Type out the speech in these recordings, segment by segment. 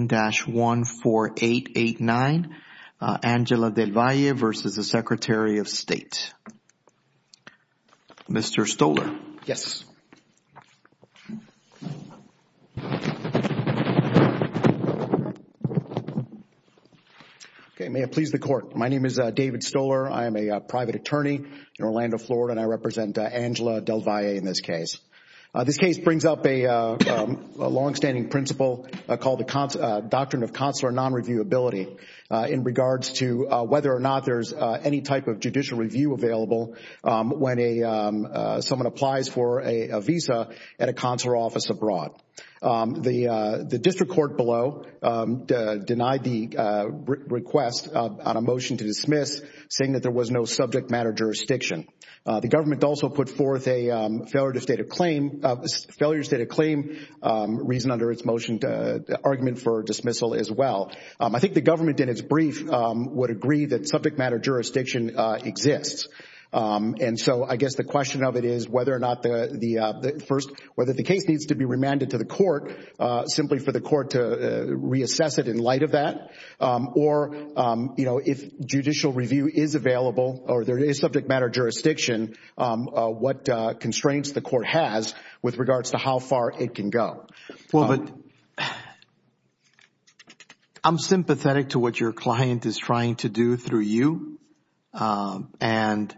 1-14889, Angela Del Valle versus the Secretary of State. Mr. Stoler. Yes, okay. May it please the court. My name is David Stoler. I am a private attorney in Orlando, Florida, and I represent Angela Del Valle in this case. This case brings up a longstanding principle called the Doctrine of Consular Non-Reviewability in regards to whether or not there's any type of judicial review available when someone applies for a visa at a consular office abroad. The district court below denied the request on a motion to dismiss, saying that there was no subject matter jurisdiction. The government also put forth a failure to state a claim reason, reason under its motion to argument for dismissal as well. I think the government in its brief would agree that subject matter jurisdiction exists. And so I guess the question of it is whether or not the first, whether the case needs to be remanded to the court simply for the court to reassess it in light of that, or if judicial review is available or there is subject matter jurisdiction, what constraints the court has with regards to how far it can go. I'm sympathetic to what your client is trying to do through you and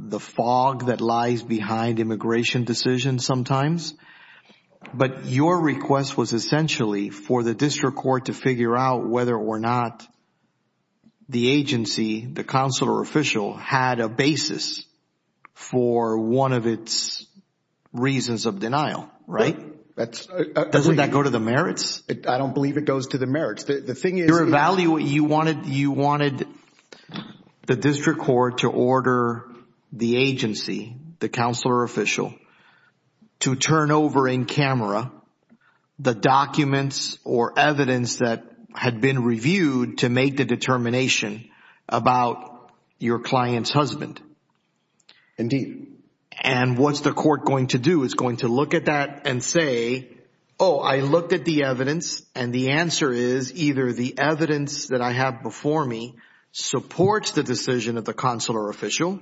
the fog that lies behind immigration decisions sometimes, but your request was essentially for the district court to figure out whether or not the agency, the consular official, had a basis for one of its reasons of denial, right? Doesn't that go to the merits? I don't believe it goes to the merits. The thing is- You wanted the district court to order the agency, the consular official, to turn over in camera the documents or evidence that had been reviewed to make the determination about your client's husband. Indeed. And what's the court going to do? It's going to look at that and say, oh, I looked at the evidence and the answer is either the evidence that I have before me supports the decision of the consular official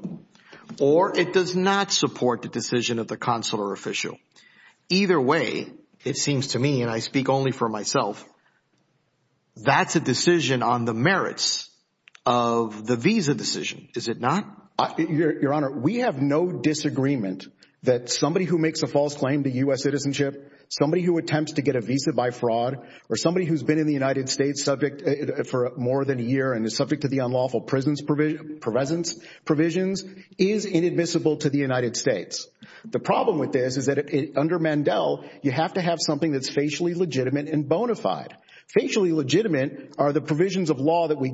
or it does not support the decision of the consular official. Either way, it seems to me, and I speak only for myself, that's a decision on the merits of the visa decision, is it not? Your Honor, we have no disagreement that somebody who makes a false claim to U.S. citizenship, somebody who attempts to get a visa by fraud, or somebody who's been in the United States subject for more than a year and is subject to the unlawful presence provisions is inadmissible to the United States. The problem with this is that under Mandel, you have to have something that's facially legitimate and bona fide. Facially legitimate are the provisions of Mandel. We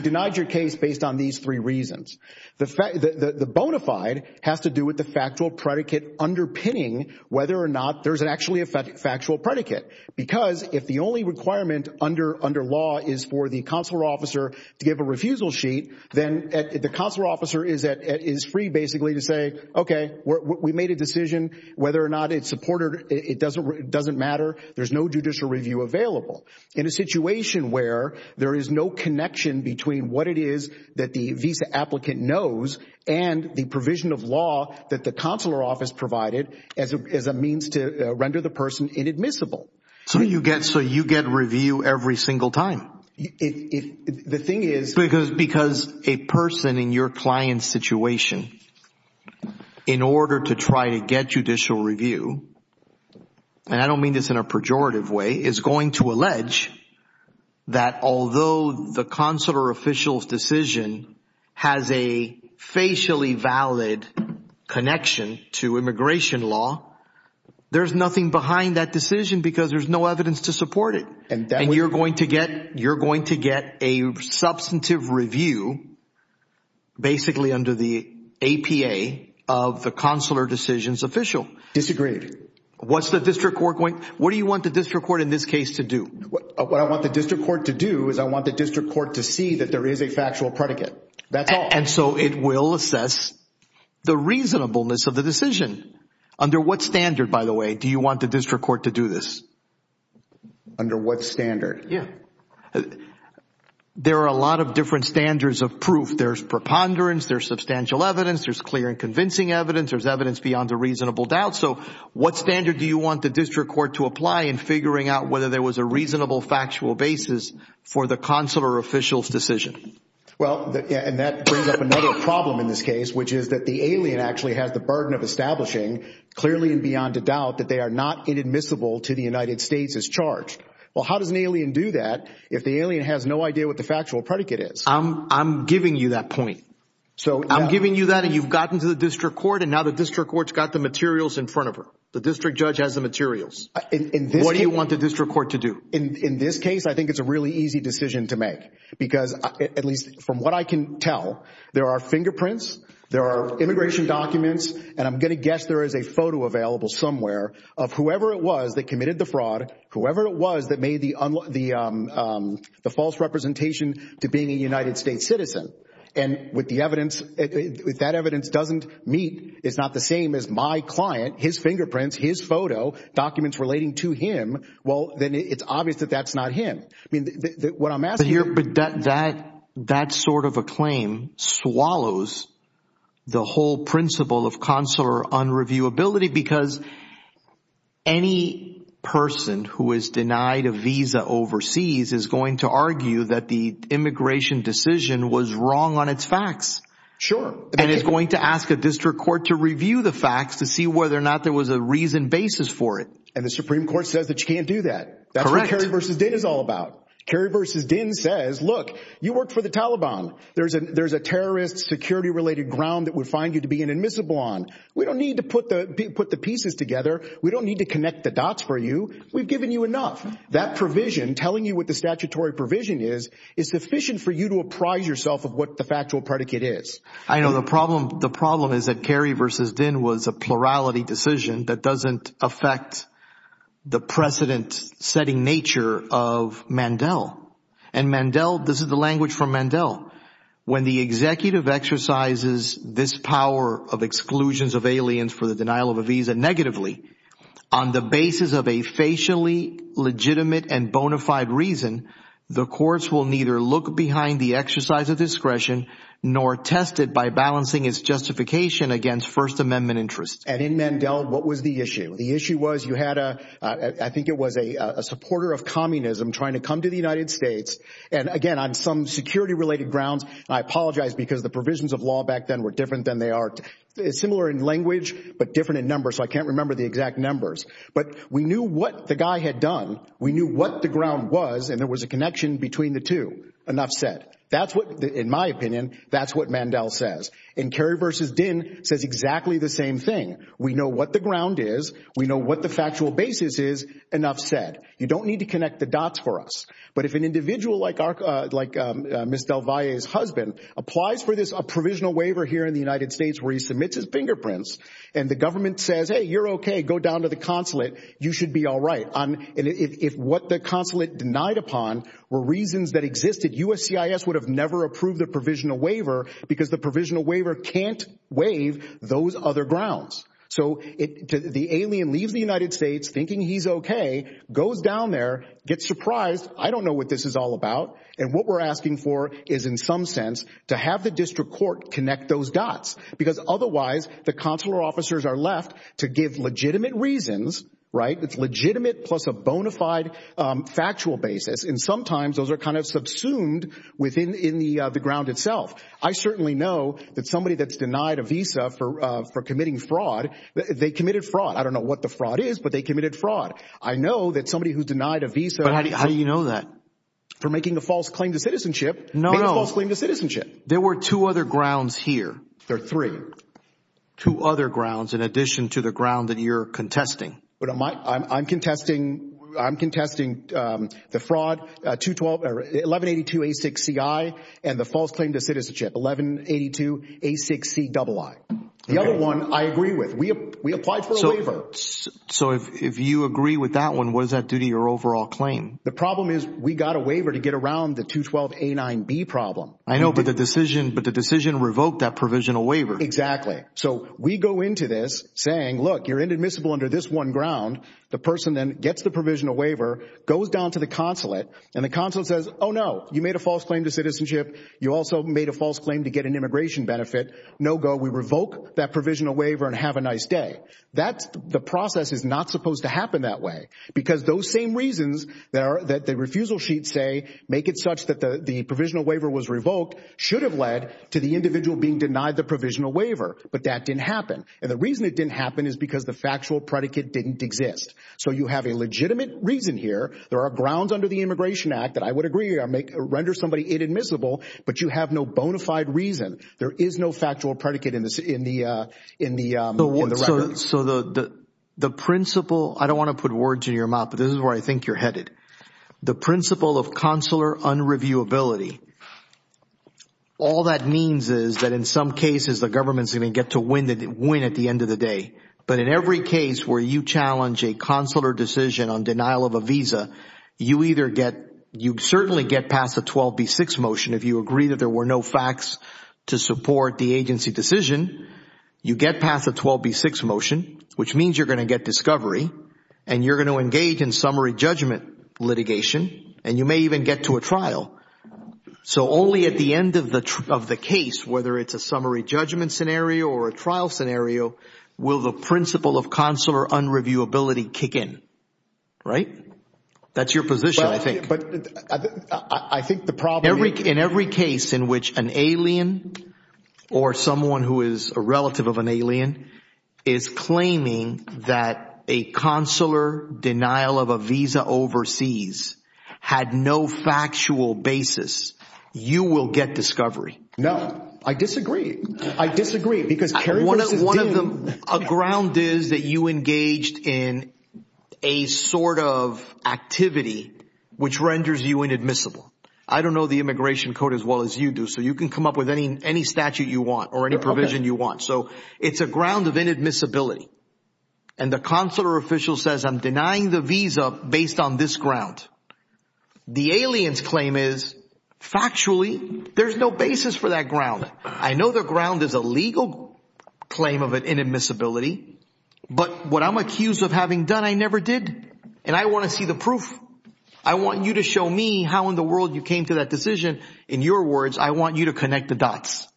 denied your case based on these three reasons. The bona fide has to do with the factual predicate underpinning whether or not there's actually a factual predicate. Because if the only requirement under law is for the consular officer to give a refusal sheet, then the consular officer is free basically to say, okay, we made a decision. Whether or not it's supported, it doesn't matter. There's no judicial review available. In a situation between what it is that the visa applicant knows and the provision of law that the consular office provided as a means to render the person inadmissible. So you get review every single time? The thing is- Because a person in your client's situation, in order to try to get judicial review, and the consular official's decision has a facially valid connection to immigration law, there's nothing behind that decision because there's no evidence to support it. And you're going to get a substantive review basically under the APA of the consular decision's official. Disagreed. What's the district court going... What do you want the district court in this case to do? What I want the district court to do is I want the district court to see that there is a factual predicate. That's all. And so it will assess the reasonableness of the decision. Under what standard, by the way, do you want the district court to do this? Under what standard? There are a lot of different standards of proof. There's preponderance, there's substantial evidence, there's clear and convincing evidence, there's evidence beyond a reasonable doubt. So what standard do you want the district court to apply in figuring out whether there was a reasonable factual basis for the consular official's decision? Well, and that brings up another problem in this case, which is that the alien actually has the burden of establishing clearly and beyond a doubt that they are not inadmissible to the United States as charged. Well, how does an alien do that if the alien has no idea what the factual predicate is? I'm giving you that point. So I'm giving you that and you've gotten to the district court and now the district court's got the materials in front of her. The district judge has the materials. What do you want the district court to do? In this case, I think it's a really easy decision to make because at least from what I can tell, there are fingerprints, there are immigration documents, and I'm going to guess there is a photo available somewhere of whoever it was that committed the fraud, whoever it was that made the false representation to being a United States citizen. And with the evidence, that evidence doesn't meet, it's not the same as my client, his fingerprints, his photo documents relating to him. Well, then it's obvious that that's not him. I mean, what I'm asking here- But that sort of a claim swallows the whole principle of consular unreviewability because any person who is denied a visa overseas is going to argue that the immigration decision was wrong on its facts. Sure. And is going to ask a district court to review the facts to see whether or not there was a reason basis for it. And the Supreme Court says that you can't do that. Correct. That's what Kerry v. Din is all about. Kerry v. Din says, look, you worked for the Taliban. There's a terrorist security related ground that would find you to be an admissible on. We don't need to put the pieces together. We don't need to connect the dots for you. We've given you enough. That provision telling you what the statutory provision is, is sufficient for you to apprise yourself of what the factual predicate is. I know the problem, the problem is that Kerry v. Din was a plurality decision that doesn't affect the precedent setting nature of Mandel. And Mandel, this is the language from Mandel. When the executive exercises this power of exclusions of aliens for the denial of a visa negatively on the basis of a facially legitimate and bona fide reason, the courts will neither look behind the exercise of discretion nor test it by balancing its justification against First Amendment interests. And in Mandel, what was the issue? The issue was you had a I think it was a supporter of communism trying to come to the United States. And again, on some security related grounds, I apologize because the provisions of law back then were different than they are similar in language, but different in numbers. So I can't remember the exact numbers. But we knew what the guy had done. We knew what the ground was. And there was a connection between the two. Enough said. That's what, in my opinion, that's what Mandel says. And Kerry v. Din says exactly the same thing. We know what the ground is. We know what the factual basis is. Enough said. You don't need to connect the dots for us. But if an individual like Ms. Del Valle's husband applies for this provisional waiver here in the United States where he submits his fingerprints and the government says, hey, you're OK, go down to the consulate, you should be all right. And if what the consulate denied upon were reasons that existed, USCIS would have never approved the provisional waiver because the provisional waiver can't waive those other grounds. So the alien leaves the United States thinking he's OK, goes down there, gets surprised. I don't know what this is all about. And what we're asking for is, in some sense, to have the district court connect those dots, because otherwise the consular officers are left to give legitimate reasons, right? It's legitimate plus a bona fide factual basis. And sometimes those are kind of subsumed within the ground itself. I certainly know that somebody that's denied a visa for committing fraud, they committed fraud. I don't know what the fraud is, but they committed fraud. I know that somebody who's denied a visa. But how do you know that? For making a false claim to citizenship. No, no. Making a false claim to citizenship. There were two other grounds here. There are three. Two other grounds, in addition to the ground that you're contesting. I'm contesting the fraud, 1182A6CI, and the false claim to citizenship, 1182A6CII. The other one, I agree with. We applied for a waiver. So if you agree with that one, what does that do to your overall claim? The problem is we got a waiver to get around the 212A9B problem. I know, but the decision revoked that provisional waiver. Exactly. So we go into this saying, look, you're inadmissible under this one ground. The person then gets the provisional waiver, goes down to the consulate, and the consulate says, oh no, you made a false claim to citizenship. You also made a false claim to get an immigration benefit. No go. We revoke that provisional waiver and have a nice day. The process is not supposed to happen that way. Because those same reasons that the refusal sheets say, make it such that the provisional waiver was revoked, should have led to the individual being denied the provisional waiver. But that didn't happen. And the reason it didn't happen is because the factual predicate didn't exist. So you have a legitimate reason here. There are grounds under the Immigration Act that I would agree or render somebody inadmissible, but you have no bona fide reason. There is no factual predicate in the record. So the principle, I don't want to put words in your mouth, but this is where I think you're headed. The principle of consular unreviewability. All that means is that in some cases, the government is going to get to win at the end of the day. But in every case where you challenge a consular decision on denial of a visa, you either get, you certainly get past the 12B6 motion if you agree that there were no facts to support the agency decision. You get past the 12B6 motion, which means you're going to get discovery, and you're going to get litigation, and you may even get to a trial. So only at the end of the case, whether it's a summary judgment scenario or a trial scenario, will the principle of consular unreviewability kick in. Right? That's your position, I think. But I think the problem is- In every case in which an alien or someone who is a relative of an alien is claiming that a consular denial of a visa overseas had no factual basis, you will get discovery. No. I disagree. I disagree. Because Kerry versus Dean- A ground is that you engaged in a sort of activity which renders you inadmissible. I don't know the immigration code as well as you do, so you can come up with any statute you want or any provision you want. So it's a ground of inadmissibility. And the consular official says, I'm denying the visa based on this ground. The alien's claim is, factually, there's no basis for that ground. I know the ground is a legal claim of inadmissibility, but what I'm accused of having done, I never did. And I want to see the proof. I want you to show me how in the world you came to that decision. In your words, I want you to connect the dots.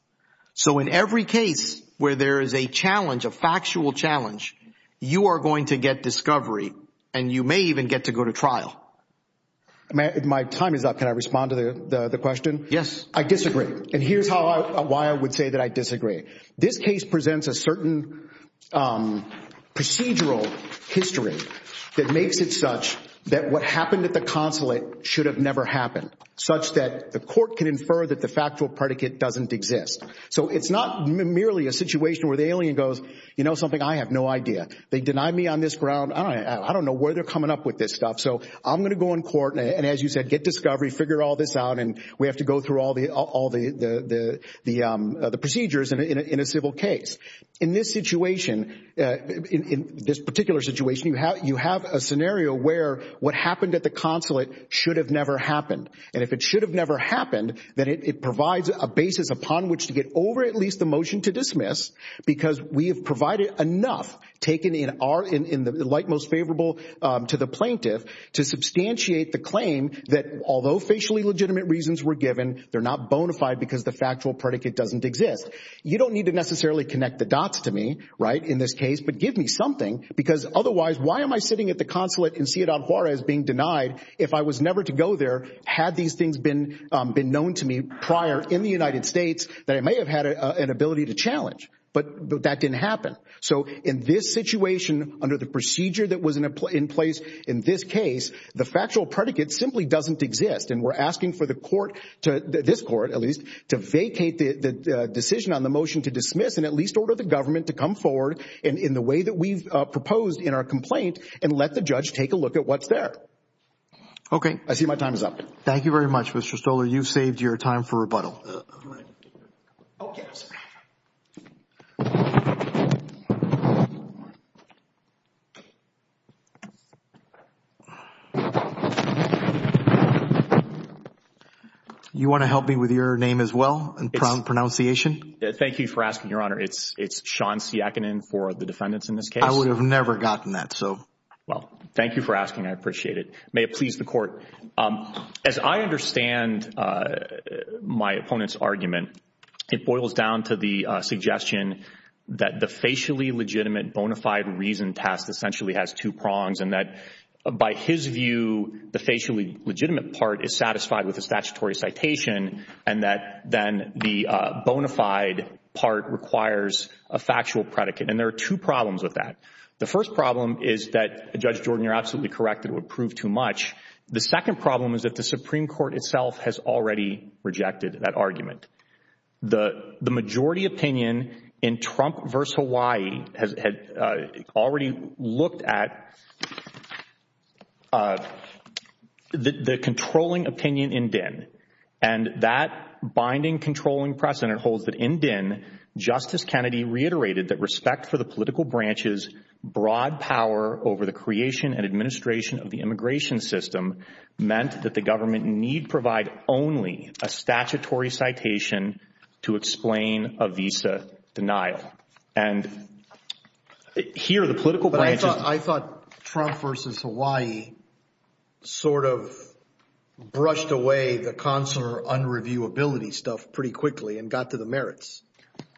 So in every case where there is a challenge, a factual challenge, you are going to get discovery and you may even get to go to trial. My time is up. Can I respond to the question? Yes. I disagree. And here's why I would say that I disagree. This case presents a certain procedural history that makes it such that what happened at the consulate should have never happened, such that the court can infer that the factual predicate doesn't exist. So it's not merely a situation where the alien goes, you know something? I have no idea. They deny me on this ground, I don't know where they're coming up with this stuff. So I'm going to go in court, and as you said, get discovery, figure all this out, and we have to go through all the procedures in a civil case. In this situation, in this particular situation, you have a scenario where what happened at the consulate should have never happened. And if it should have never happened, then it provides a basis upon which to get over at least the motion to dismiss, because we have provided enough, taken in the light most favorable to the plaintiff, to substantiate the claim that although facially legitimate reasons were given, they're not bona fide because the factual predicate doesn't exist. You don't need to necessarily connect the dots to me, right, in this case, but give me something, because otherwise, why am I sitting at the consulate in Ciudad Juarez being denied if I was never to go there had these things been known to me prior in the United States that I may have had an ability to challenge? But that didn't happen. So in this situation, under the procedure that was in place in this case, the factual predicate simply doesn't exist, and we're asking for the court, this court at least, to vacate the decision on the motion to dismiss and at least order the government to come forward in the way that we've proposed in our complaint and let the judge take a look at what's there. Okay. I see my time is up. Thank you very much, Mr. Stoller. You've saved your time for rebuttal. You want to help me with your name as well and pronunciation? Thank you for asking, Your Honor. It's Sean Siakinen for the defendants in this case. I would have never gotten that, so. Well, thank you for asking. I appreciate it. May it please the court. As I understand my opponent's argument, it boils down to the suggestion that the facially legitimate bona fide reason test essentially has two prongs and that by his view, the facially legitimate part is satisfied with the statutory citation and that then the bona fide part requires a factual predicate. And there are two problems with that. The first problem is that, Judge Jordan, you're absolutely correct, it would prove too much. The second problem is that the Supreme Court itself has already rejected that argument. The majority opinion in Trump versus Hawaii had already looked at the controlling opinion in Dinn. And that binding controlling precedent holds that in Dinn, Justice Kennedy reiterated that the political branch's broad power over the creation and administration of the immigration system meant that the government need provide only a statutory citation to explain a visa denial. And here, the political branch. I thought Trump versus Hawaii sort of brushed away the consular unreviewability stuff pretty quickly and got to the merits.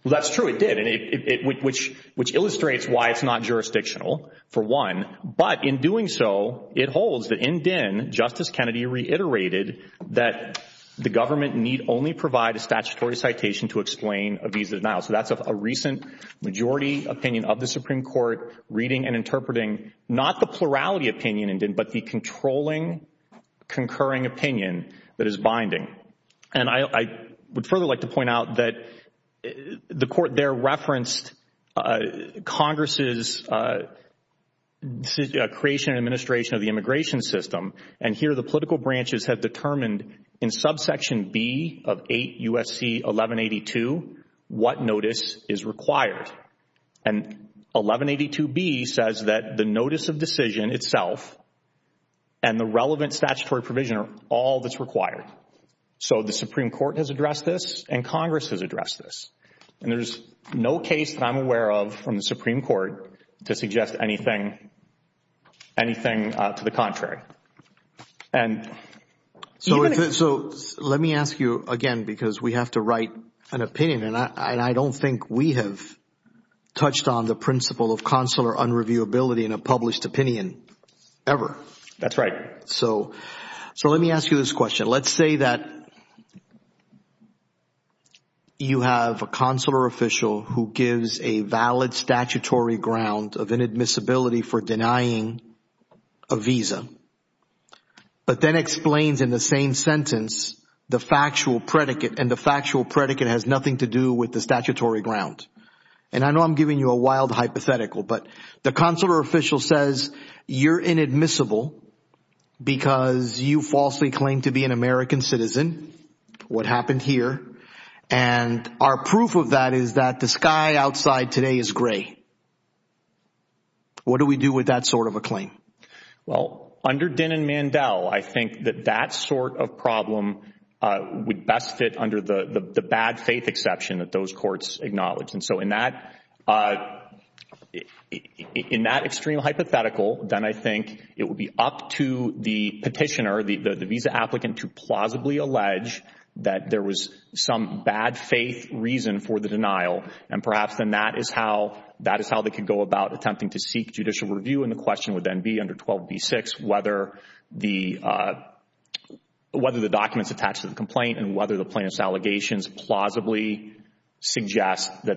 That's true. It did. Which illustrates why it's not jurisdictional, for one. But in doing so, it holds that in Dinn, Justice Kennedy reiterated that the government need only provide a statutory citation to explain a visa denial. So that's a recent majority opinion of the Supreme Court reading and interpreting not the plurality opinion in Dinn, but the controlling concurring opinion that is binding. And I would further like to point out that the court there referenced Congress' creation and administration of the immigration system. And here, the political branches have determined in subsection B of 8 U.S.C. 1182 what notice is required. And 1182B says that the notice of decision itself and the relevant statutory provision are all that's required. So the Supreme Court has addressed this and Congress has addressed this. And there's no case that I'm aware of from the Supreme Court to suggest anything to the contrary. So let me ask you again because we have to write an opinion and I don't think we have touched on the principle of consular unreviewability in a published opinion ever. That's right. So let me ask you this question. Let's say that you have a consular official who gives a valid statutory ground of inadmissibility for denying a visa, but then explains in the same sentence the factual predicate and the factual predicate has nothing to do with the statutory ground. And I know I'm giving you a wild hypothetical, but the consular official says you're inadmissible because you falsely claim to be an American citizen. What happened here? And our proof of that is that the sky outside today is gray. What do we do with that sort of a claim? Well under Dinn and Mandel, I think that that sort of problem would best fit under the bad faith exception that those courts acknowledge. And so in that extreme hypothetical, then I think it would be up to the petitioner, the visa applicant, to plausibly allege that there was some bad faith reason for the denial and perhaps then that is how they could go about attempting to seek judicial review and the question would then be under 12b-6 whether the documents attached to the complaint and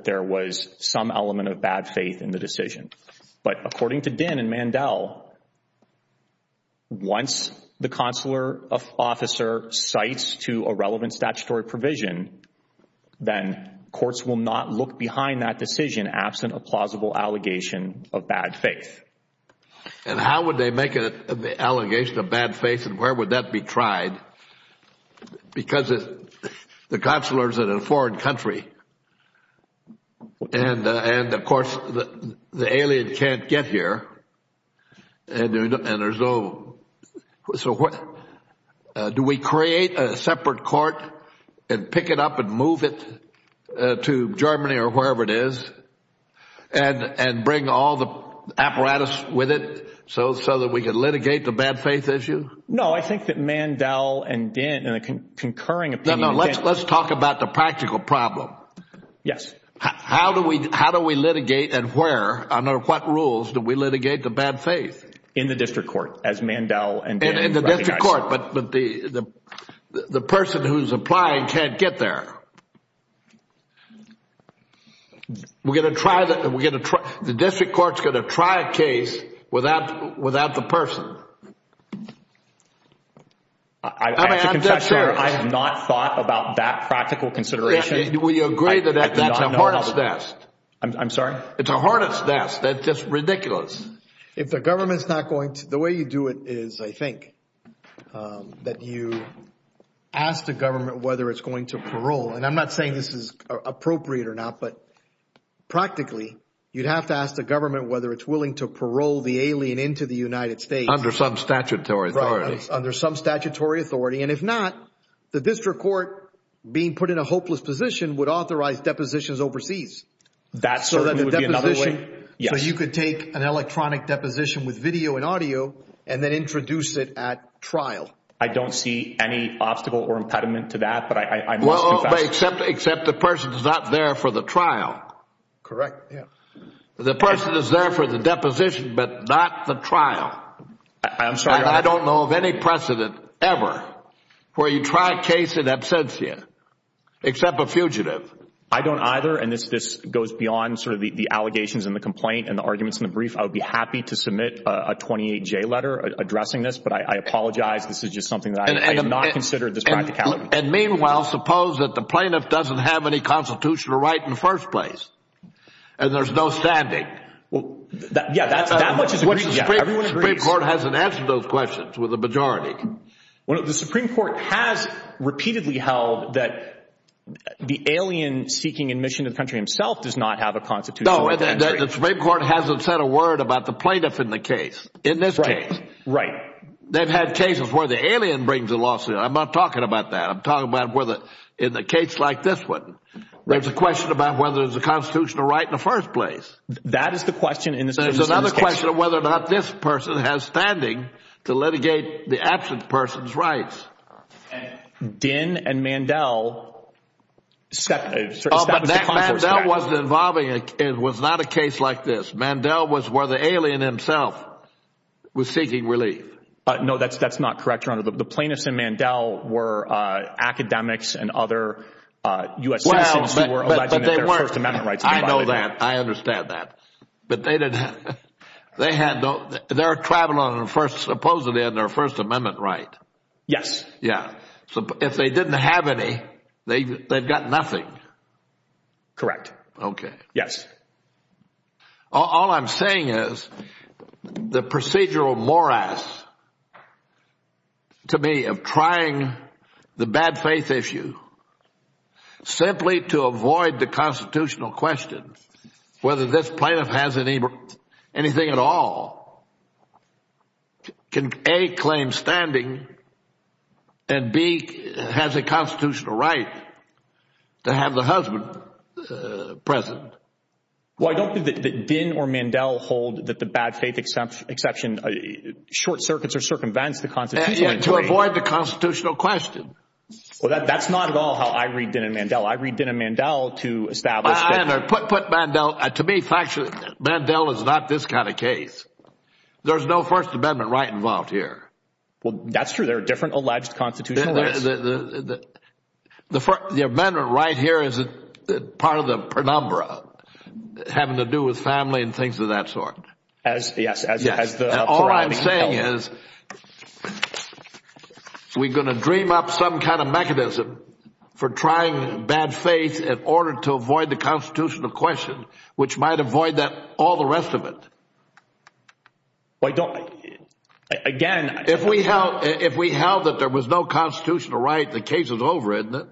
there was some element of bad faith in the decision. But according to Dinn and Mandel, once the consular officer cites to a relevant statutory provision, then courts will not look behind that decision absent a plausible allegation of bad faith. And how would they make an allegation of bad faith and where would that be tried? Because if the consular is in a foreign country and of course the alien can't get here, do we create a separate court and pick it up and move it to Germany or wherever it is and bring all the apparatus with it so that we can litigate the bad faith issue? No, I think that Mandel and Dinn, in a concurring opinion... No, no, let's talk about the practical problem. Yes. How do we litigate and where, under what rules do we litigate the bad faith? In the district court as Mandel and Dinn... In the district court, but the person who is applying can't get there. The district court is going to try a case without the person. I have not thought about that practical consideration. We agree that that's the hardest test. I'm sorry? It's the hardest test. That's just ridiculous. If the government is not going to... I'm not saying this is appropriate or not, but practically, you'd have to ask the government whether it's willing to parole the alien into the United States. Under some statutory authority. Under some statutory authority, and if not, the district court being put in a hopeless position would authorize depositions overseas. That certainly would be another way, yes. You could take an electronic deposition with video and audio and then introduce it at trial. I don't see any obstacle or impediment to that, but I must confess... Except the person is not there for the trial. Correct, yes. The person is there for the deposition, but not the trial. I'm sorry, Your Honor? I don't know of any precedent ever where you try a case in absentia, except a fugitive. I don't either, and this goes beyond sort of the allegations and the complaint and the arguments in the brief. I would be happy to submit a 28-J letter addressing this, but I apologize. This is just something that I have not considered this practicality. And meanwhile, suppose that the plaintiff doesn't have any constitutional right in the first place, and there's no standing. Well, yeah, that much is agreed to, yeah. Everyone agrees. The Supreme Court hasn't answered those questions with a majority. The Supreme Court has repeatedly held that the alien seeking admission to the country himself does not have a constitutional right to enter into the United States. No, the Supreme Court hasn't said a word about the plaintiff in the case. In this case. Right, right. They've had cases where the alien brings a lawsuit. I'm not talking about that. I'm talking about whether in a case like this one, there's a question about whether there's a constitutional right in the first place. That is the question in the plaintiff's case. There's another question of whether or not this person has standing to litigate the absent person's rights. Dinh and Mandel set a certain status of comfort for that. Oh, but Mandel wasn't involved in, it was not a case like this. Mandel was where the alien himself was seeking relief. No, that's not correct, Your Honor. The plaintiffs in Mandel were academics and other U.S. citizens who were alleging that their First Amendment rights were violated. I know that. I understand that. But they didn't have, they had no, they're traveling on supposedly on their First Amendment right. Yes. Yeah. So if they didn't have any, they've got nothing. Correct. Okay. Yes. All I'm saying is the procedural morass to me of trying the bad faith issue simply to avoid the constitutional question, whether this plaintiff has anything at all, can A, claim standing, and B, has a constitutional right to have the husband present. Well, I don't think that Dinh or Mandel hold that the bad faith exception, short circuits are circumvents the constitutional. Yeah. To avoid the constitutional question. Well, that's not at all how I read Dinh and Mandel. I read Dinh and Mandel to establish that. I know. Put Mandel, to me, factually, Mandel is not this kind of case. There's no First Amendment right involved here. Well, that's true. There are different alleged constitutional rights. The Amendment right here is part of the penumbra, having to do with family and things of that sort. Yes. And all I'm saying is we're going to dream up some kind of mechanism for trying bad faith in order to avoid the constitutional question, which might avoid all the rest of it. Again, if we held that there was no constitutional right, the case is over, isn't it?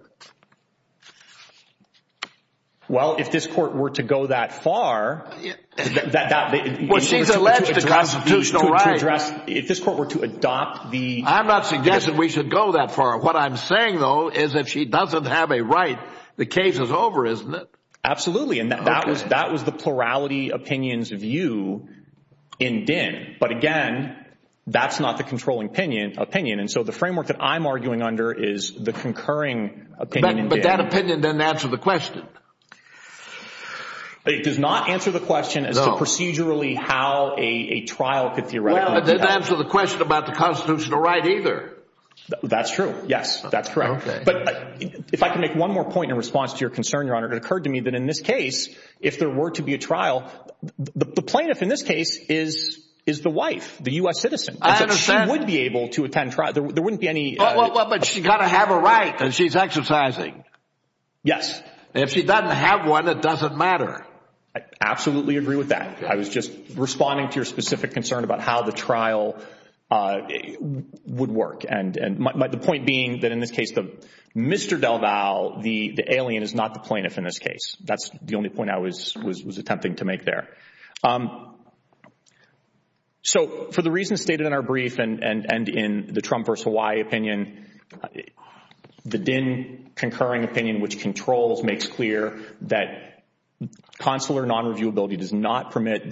Well, if this court were to go that far, that would be to address, if this court were to adopt the- I'm not suggesting we should go that far. What I'm saying, though, is if she doesn't have a right, the case is over, isn't it? Absolutely. And that was the plurality opinion's view in Dinh. But again, that's not the controlling opinion. And so the framework that I'm arguing under is the concurring opinion in Dinh. But that opinion didn't answer the question. It does not answer the question as to procedurally how a trial could theoretically- Well, it didn't answer the question about the constitutional right either. That's true. Yes, that's correct. Okay. But if I can make one more point in response to your concern, Your Honor, it occurred to me that in this case, if there were to be a trial, the plaintiff in this case is the wife, the U.S. citizen. I understand. She would be able to attend trial. There wouldn't be any- But she's got to have a right, and she's exercising. Yes. And if she doesn't have one, it doesn't matter. I absolutely agree with that. I was just responding to your specific concern about how the trial would work. And the point being that in this case, Mr. DelVal, the alien, is not the plaintiff in this case. That's the only point I was attempting to make there. So for the reasons stated in our brief and in the Trump v. Hawaii opinion, the Dinh concurring the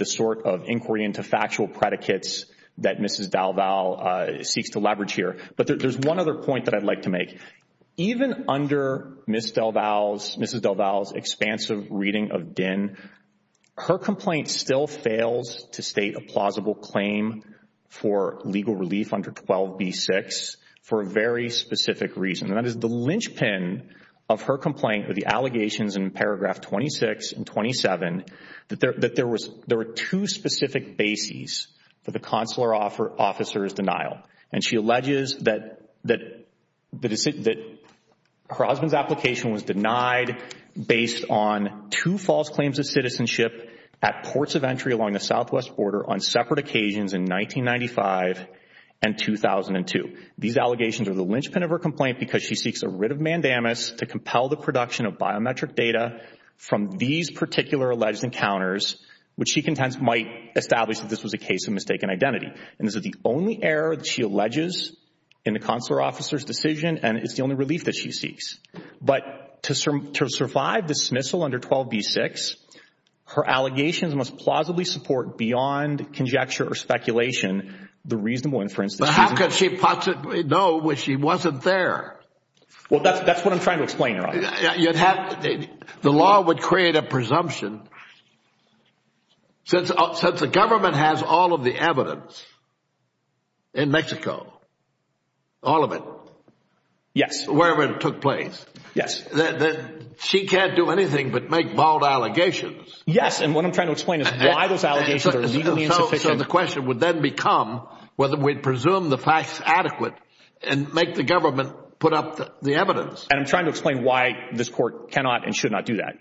sort of inquiry into factual predicates that Mrs. DelVal seeks to leverage here. But there's one other point that I'd like to make. Even under Mrs. DelVal's expansive reading of Dinh, her complaint still fails to state a plausible claim for legal relief under 12b-6 for a very specific reason, and that is the there were two specific bases for the consular officer's denial. And she alleges that her husband's application was denied based on two false claims of citizenship at ports of entry along the southwest border on separate occasions in 1995 and 2002. These allegations are the linchpin of her complaint because she seeks a writ of mandamus to compel the production of biometric data from these particular alleged encounters, which she contends might establish that this was a case of mistaken identity. And this is the only error that she alleges in the consular officer's decision, and it's the only relief that she seeks. But to survive the dismissal under 12b-6, her allegations must plausibly support beyond conjecture or speculation the reasonable inference that she's in. But how could she possibly know when she wasn't there? The law would create a presumption. Since the government has all of the evidence in Mexico, all of it, wherever it took place, she can't do anything but make bold allegations. Yes. And what I'm trying to explain is why those allegations are legally insufficient. So the question would then become whether we'd presume the facts adequate and make the government put up the evidence. And I'm trying to explain why this court cannot and should not do that.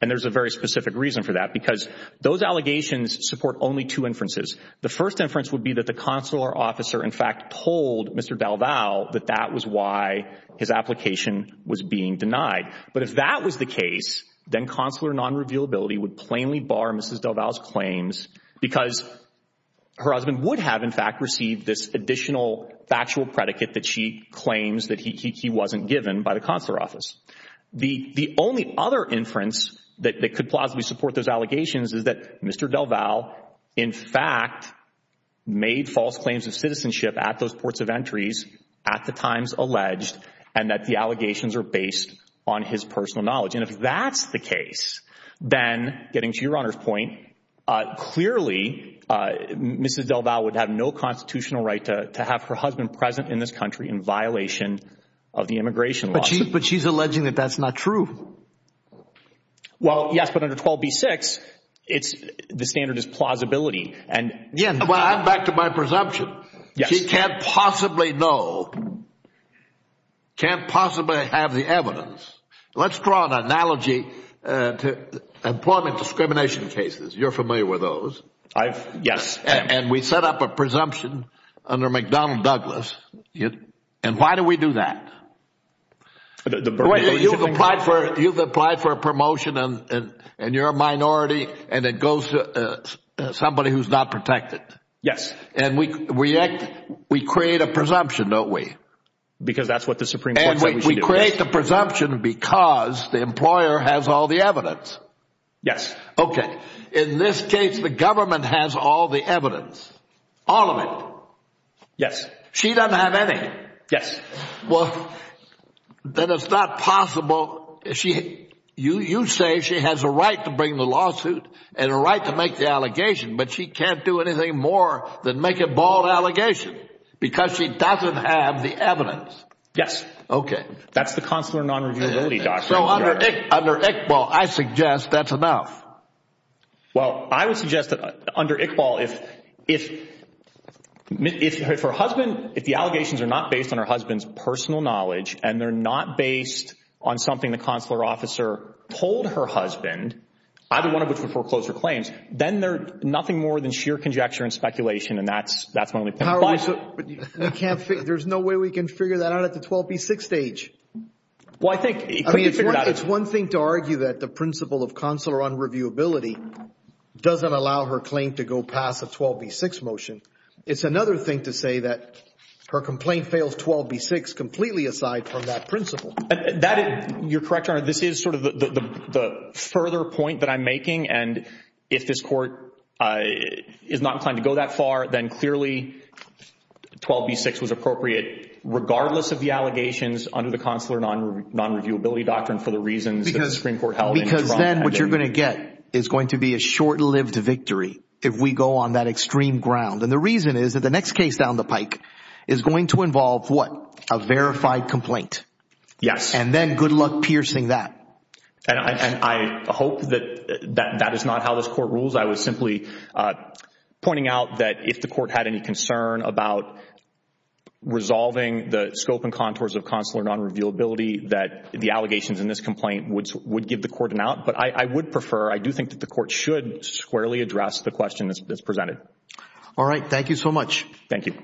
And there's a very specific reason for that, because those allegations support only two inferences. The first inference would be that the consular officer, in fact, told Mr. DelVal that that was why his application was being denied. But if that was the case, then consular non-revealability would plainly bar Mrs. DelVal's claims because her husband would have, in fact, received this additional factual predicate that she The only other inference that could plausibly support those allegations is that Mr. DelVal, in fact, made false claims of citizenship at those ports of entries, at the times alleged, and that the allegations are based on his personal knowledge. And if that's the case, then, getting to Your Honor's point, clearly, Mrs. DelVal would have no constitutional right to have her husband present in this country in violation of the But she's alleging that that's not true. Well, yes, but under 12b-6, the standard is plausibility. And again, Well, I'm back to my presumption. Yes. She can't possibly know, can't possibly have the evidence. Let's draw an analogy to employment discrimination cases. You're familiar with those. Yes. And we set up a presumption under McDonnell Douglas. Yes. And why do we do that? You've applied for a promotion, and you're a minority, and it goes to somebody who's not protected. Yes. And we create a presumption, don't we? Because that's what the Supreme Court said we should do. And we create the presumption because the employer has all the evidence. Yes. Okay. In this case, the government has all the evidence. All of it. Yes. She doesn't have any. Yes. Well, then it's not possible, you say she has a right to bring the lawsuit and a right to make the allegation, but she can't do anything more than make a bald allegation because she doesn't have the evidence. Yes. Okay. That's the consular non-reviewability doctrine. Under Iqbal, I suggest that's enough. Well, I would suggest that under Iqbal, if her husband, if the allegations are not based on her husband's personal knowledge, and they're not based on something the consular officer told her husband, either one of which would foreclose her claims, then they're nothing more than sheer conjecture and speculation, and that's my only point. There's no way we can figure that out at the 12B6 stage. Well, I think you can figure it out. It's one thing to argue that the principle of consular non-reviewability doesn't allow her claim to go past a 12B6 motion. It's another thing to say that her complaint fails 12B6 completely aside from that principle. You're correct, Your Honor. This is sort of the further point that I'm making, and if this court is not inclined to go that far, then clearly 12B6 was appropriate regardless of the allegations under the consular non-reviewability doctrine for the reasons that the Supreme Court held in the trial. Because then what you're going to get is going to be a short-lived victory if we go on that extreme ground, and the reason is that the next case down the pike is going to involve, what, a verified complaint, and then good luck piercing that. I hope that that is not how this court rules. I was simply pointing out that if the court had any concern about resolving the scope and contours of consular non-reviewability, that the allegations in this complaint would give the court an out. But I would prefer, I do think that the court should squarely address the question that's presented. All right. Thank you so much. Thank you.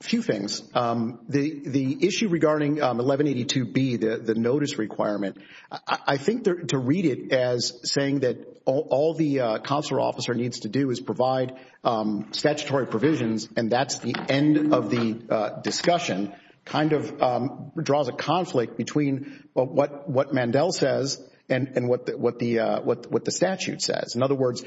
Few things. The issue regarding 1182B, the notice requirement, I think to read it as saying that all the consular officer needs to do is provide statutory provisions and that's the end of the discussion kind of draws a conflict between what Mandel says and what the statute says. In other words,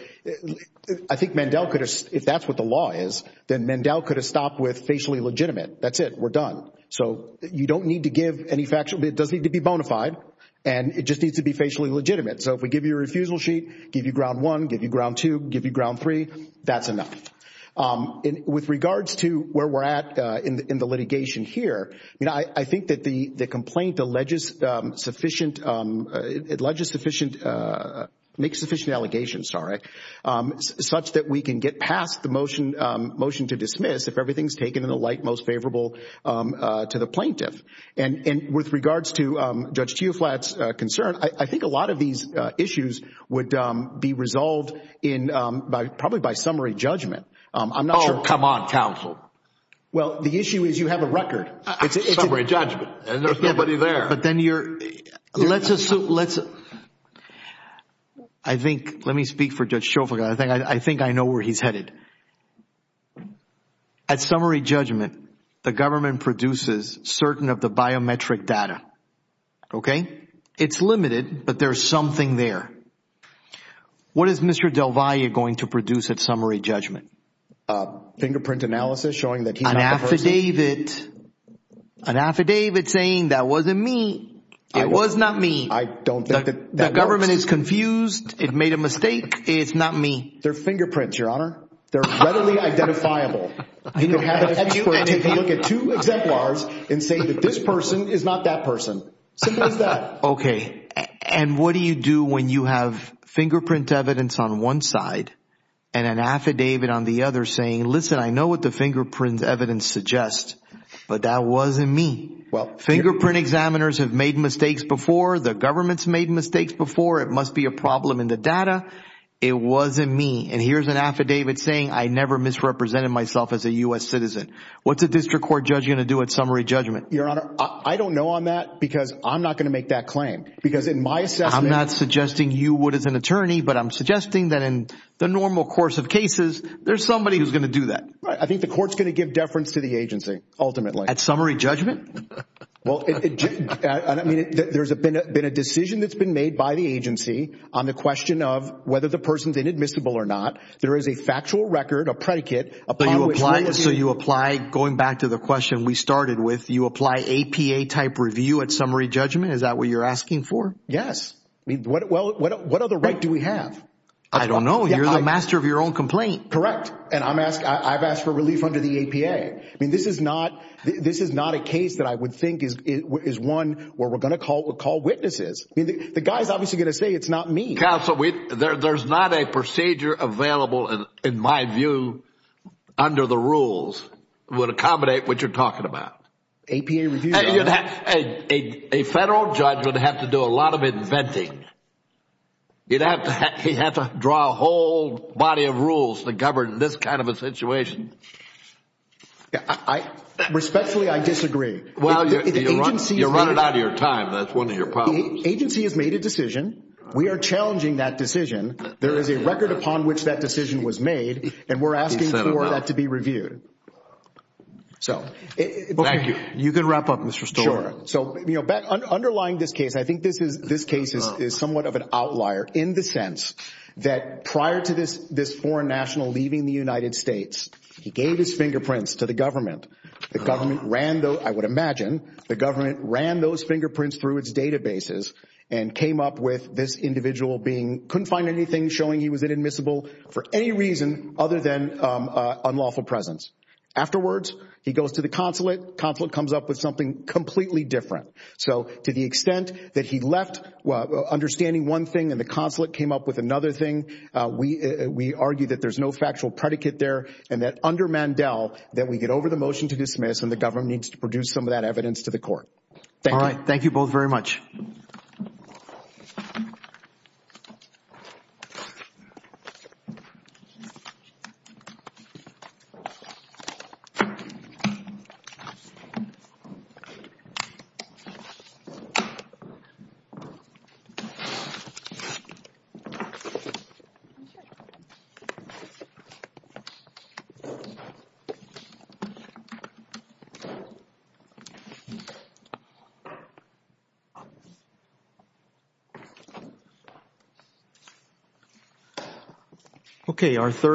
I think Mandel could have, if that's what the law is, then Mandel could have stopped with facially legitimate. That's it. We're done. So you don't need to give any factual, it doesn't need to be bonafide, and it just needs to be facially legitimate. So if we give you a refusal sheet, give you ground one, give you ground two, give you ground three, that's enough. With regards to where we're at in the litigation here, I think that the complaint alleges sufficient, make sufficient allegations, sorry, such that we can get past the motion to dismiss if everything's taken in the light most favorable to the plaintiff. And with regards to Judge Tiuflat's concern, I think a lot of these issues would be resolved probably by summary judgment. I'm not sure. Oh, come on, counsel. Well, the issue is you have a record. It's a summary judgment and there's nobody there. But then you're, let's assume, let's, I think, let me speak for Judge Tiuflat, I think I know where he's headed. At summary judgment, the government produces certain of the biometric data, okay? It's limited, but there's something there. What is Mr. Del Valle going to produce at summary judgment? Fingerprint analysis showing that he's not the person. An affidavit, an affidavit saying that wasn't me, it was not me. I don't think that works. The government is confused, it made a mistake, it's not me. They're fingerprints, Your Honor. They're readily identifiable. You can have an expert take a look at two exemplars and say that this person is not that person. Simple as that. Okay. And what do you do when you have fingerprint evidence on one side and an affidavit on the other saying, listen, I know what the fingerprint evidence suggests, but that wasn't me. Fingerprint examiners have made mistakes before, the government's made mistakes before, it must be a problem in the data, it wasn't me. And here's an affidavit saying I never misrepresented myself as a U.S. citizen. What's a district court judge going to do at summary judgment? Your Honor, I don't know on that because I'm not going to make that claim. Because in my assessment- I'm not suggesting you would as an attorney, but I'm suggesting that in the normal course of cases, there's somebody who's going to do that. I think the court's going to give deference to the agency, ultimately. At summary judgment? Well, I mean, there's been a decision that's been made by the agency on the question of whether the person's inadmissible or not. There is a factual record, a predicate- So you apply, going back to the question we started with, you apply APA type review at summary judgment? Is that what you're asking for? Yes. Well, what other right do we have? I don't know. You're the master of your own complaint. Correct. And I've asked for relief under the APA. This is not a case that I would think is one where we're going to call witnesses. The guy's obviously going to say it's not me. Counsel, there's not a procedure available, in my view, under the rules that would accommodate what you're talking about. APA review, Your Honor? A federal judge would have to do a lot of inventing. He'd have to draw a whole body of rules to govern this kind of a situation. Respectfully, I disagree. Well, you're running out of your time. That's one of your problems. The agency has made a decision. We are challenging that decision. There is a record upon which that decision was made, and we're asking for that to be reviewed. Thank you. You can wrap up, Mr. Stoler. Sure. Underlying this case, I think this case is somewhat of an outlier in the sense that prior to this foreign national leaving the United States, he gave his fingerprints to the government. The government ran those, I would imagine, the government ran those fingerprints through its databases and came up with this individual being, couldn't find anything showing he was inadmissible for any reason other than unlawful presence. Afterwards, he goes to the consulate, consulate comes up with something completely different. So to the extent that he left understanding one thing and the consulate came up with another thing, we argue that there's no factual predicate there, and that under Mandel, that we get over the motion to dismiss and the government needs to produce some of that evidence to the court. Thank you. All right. Thank you both very much. Thank you. Okay.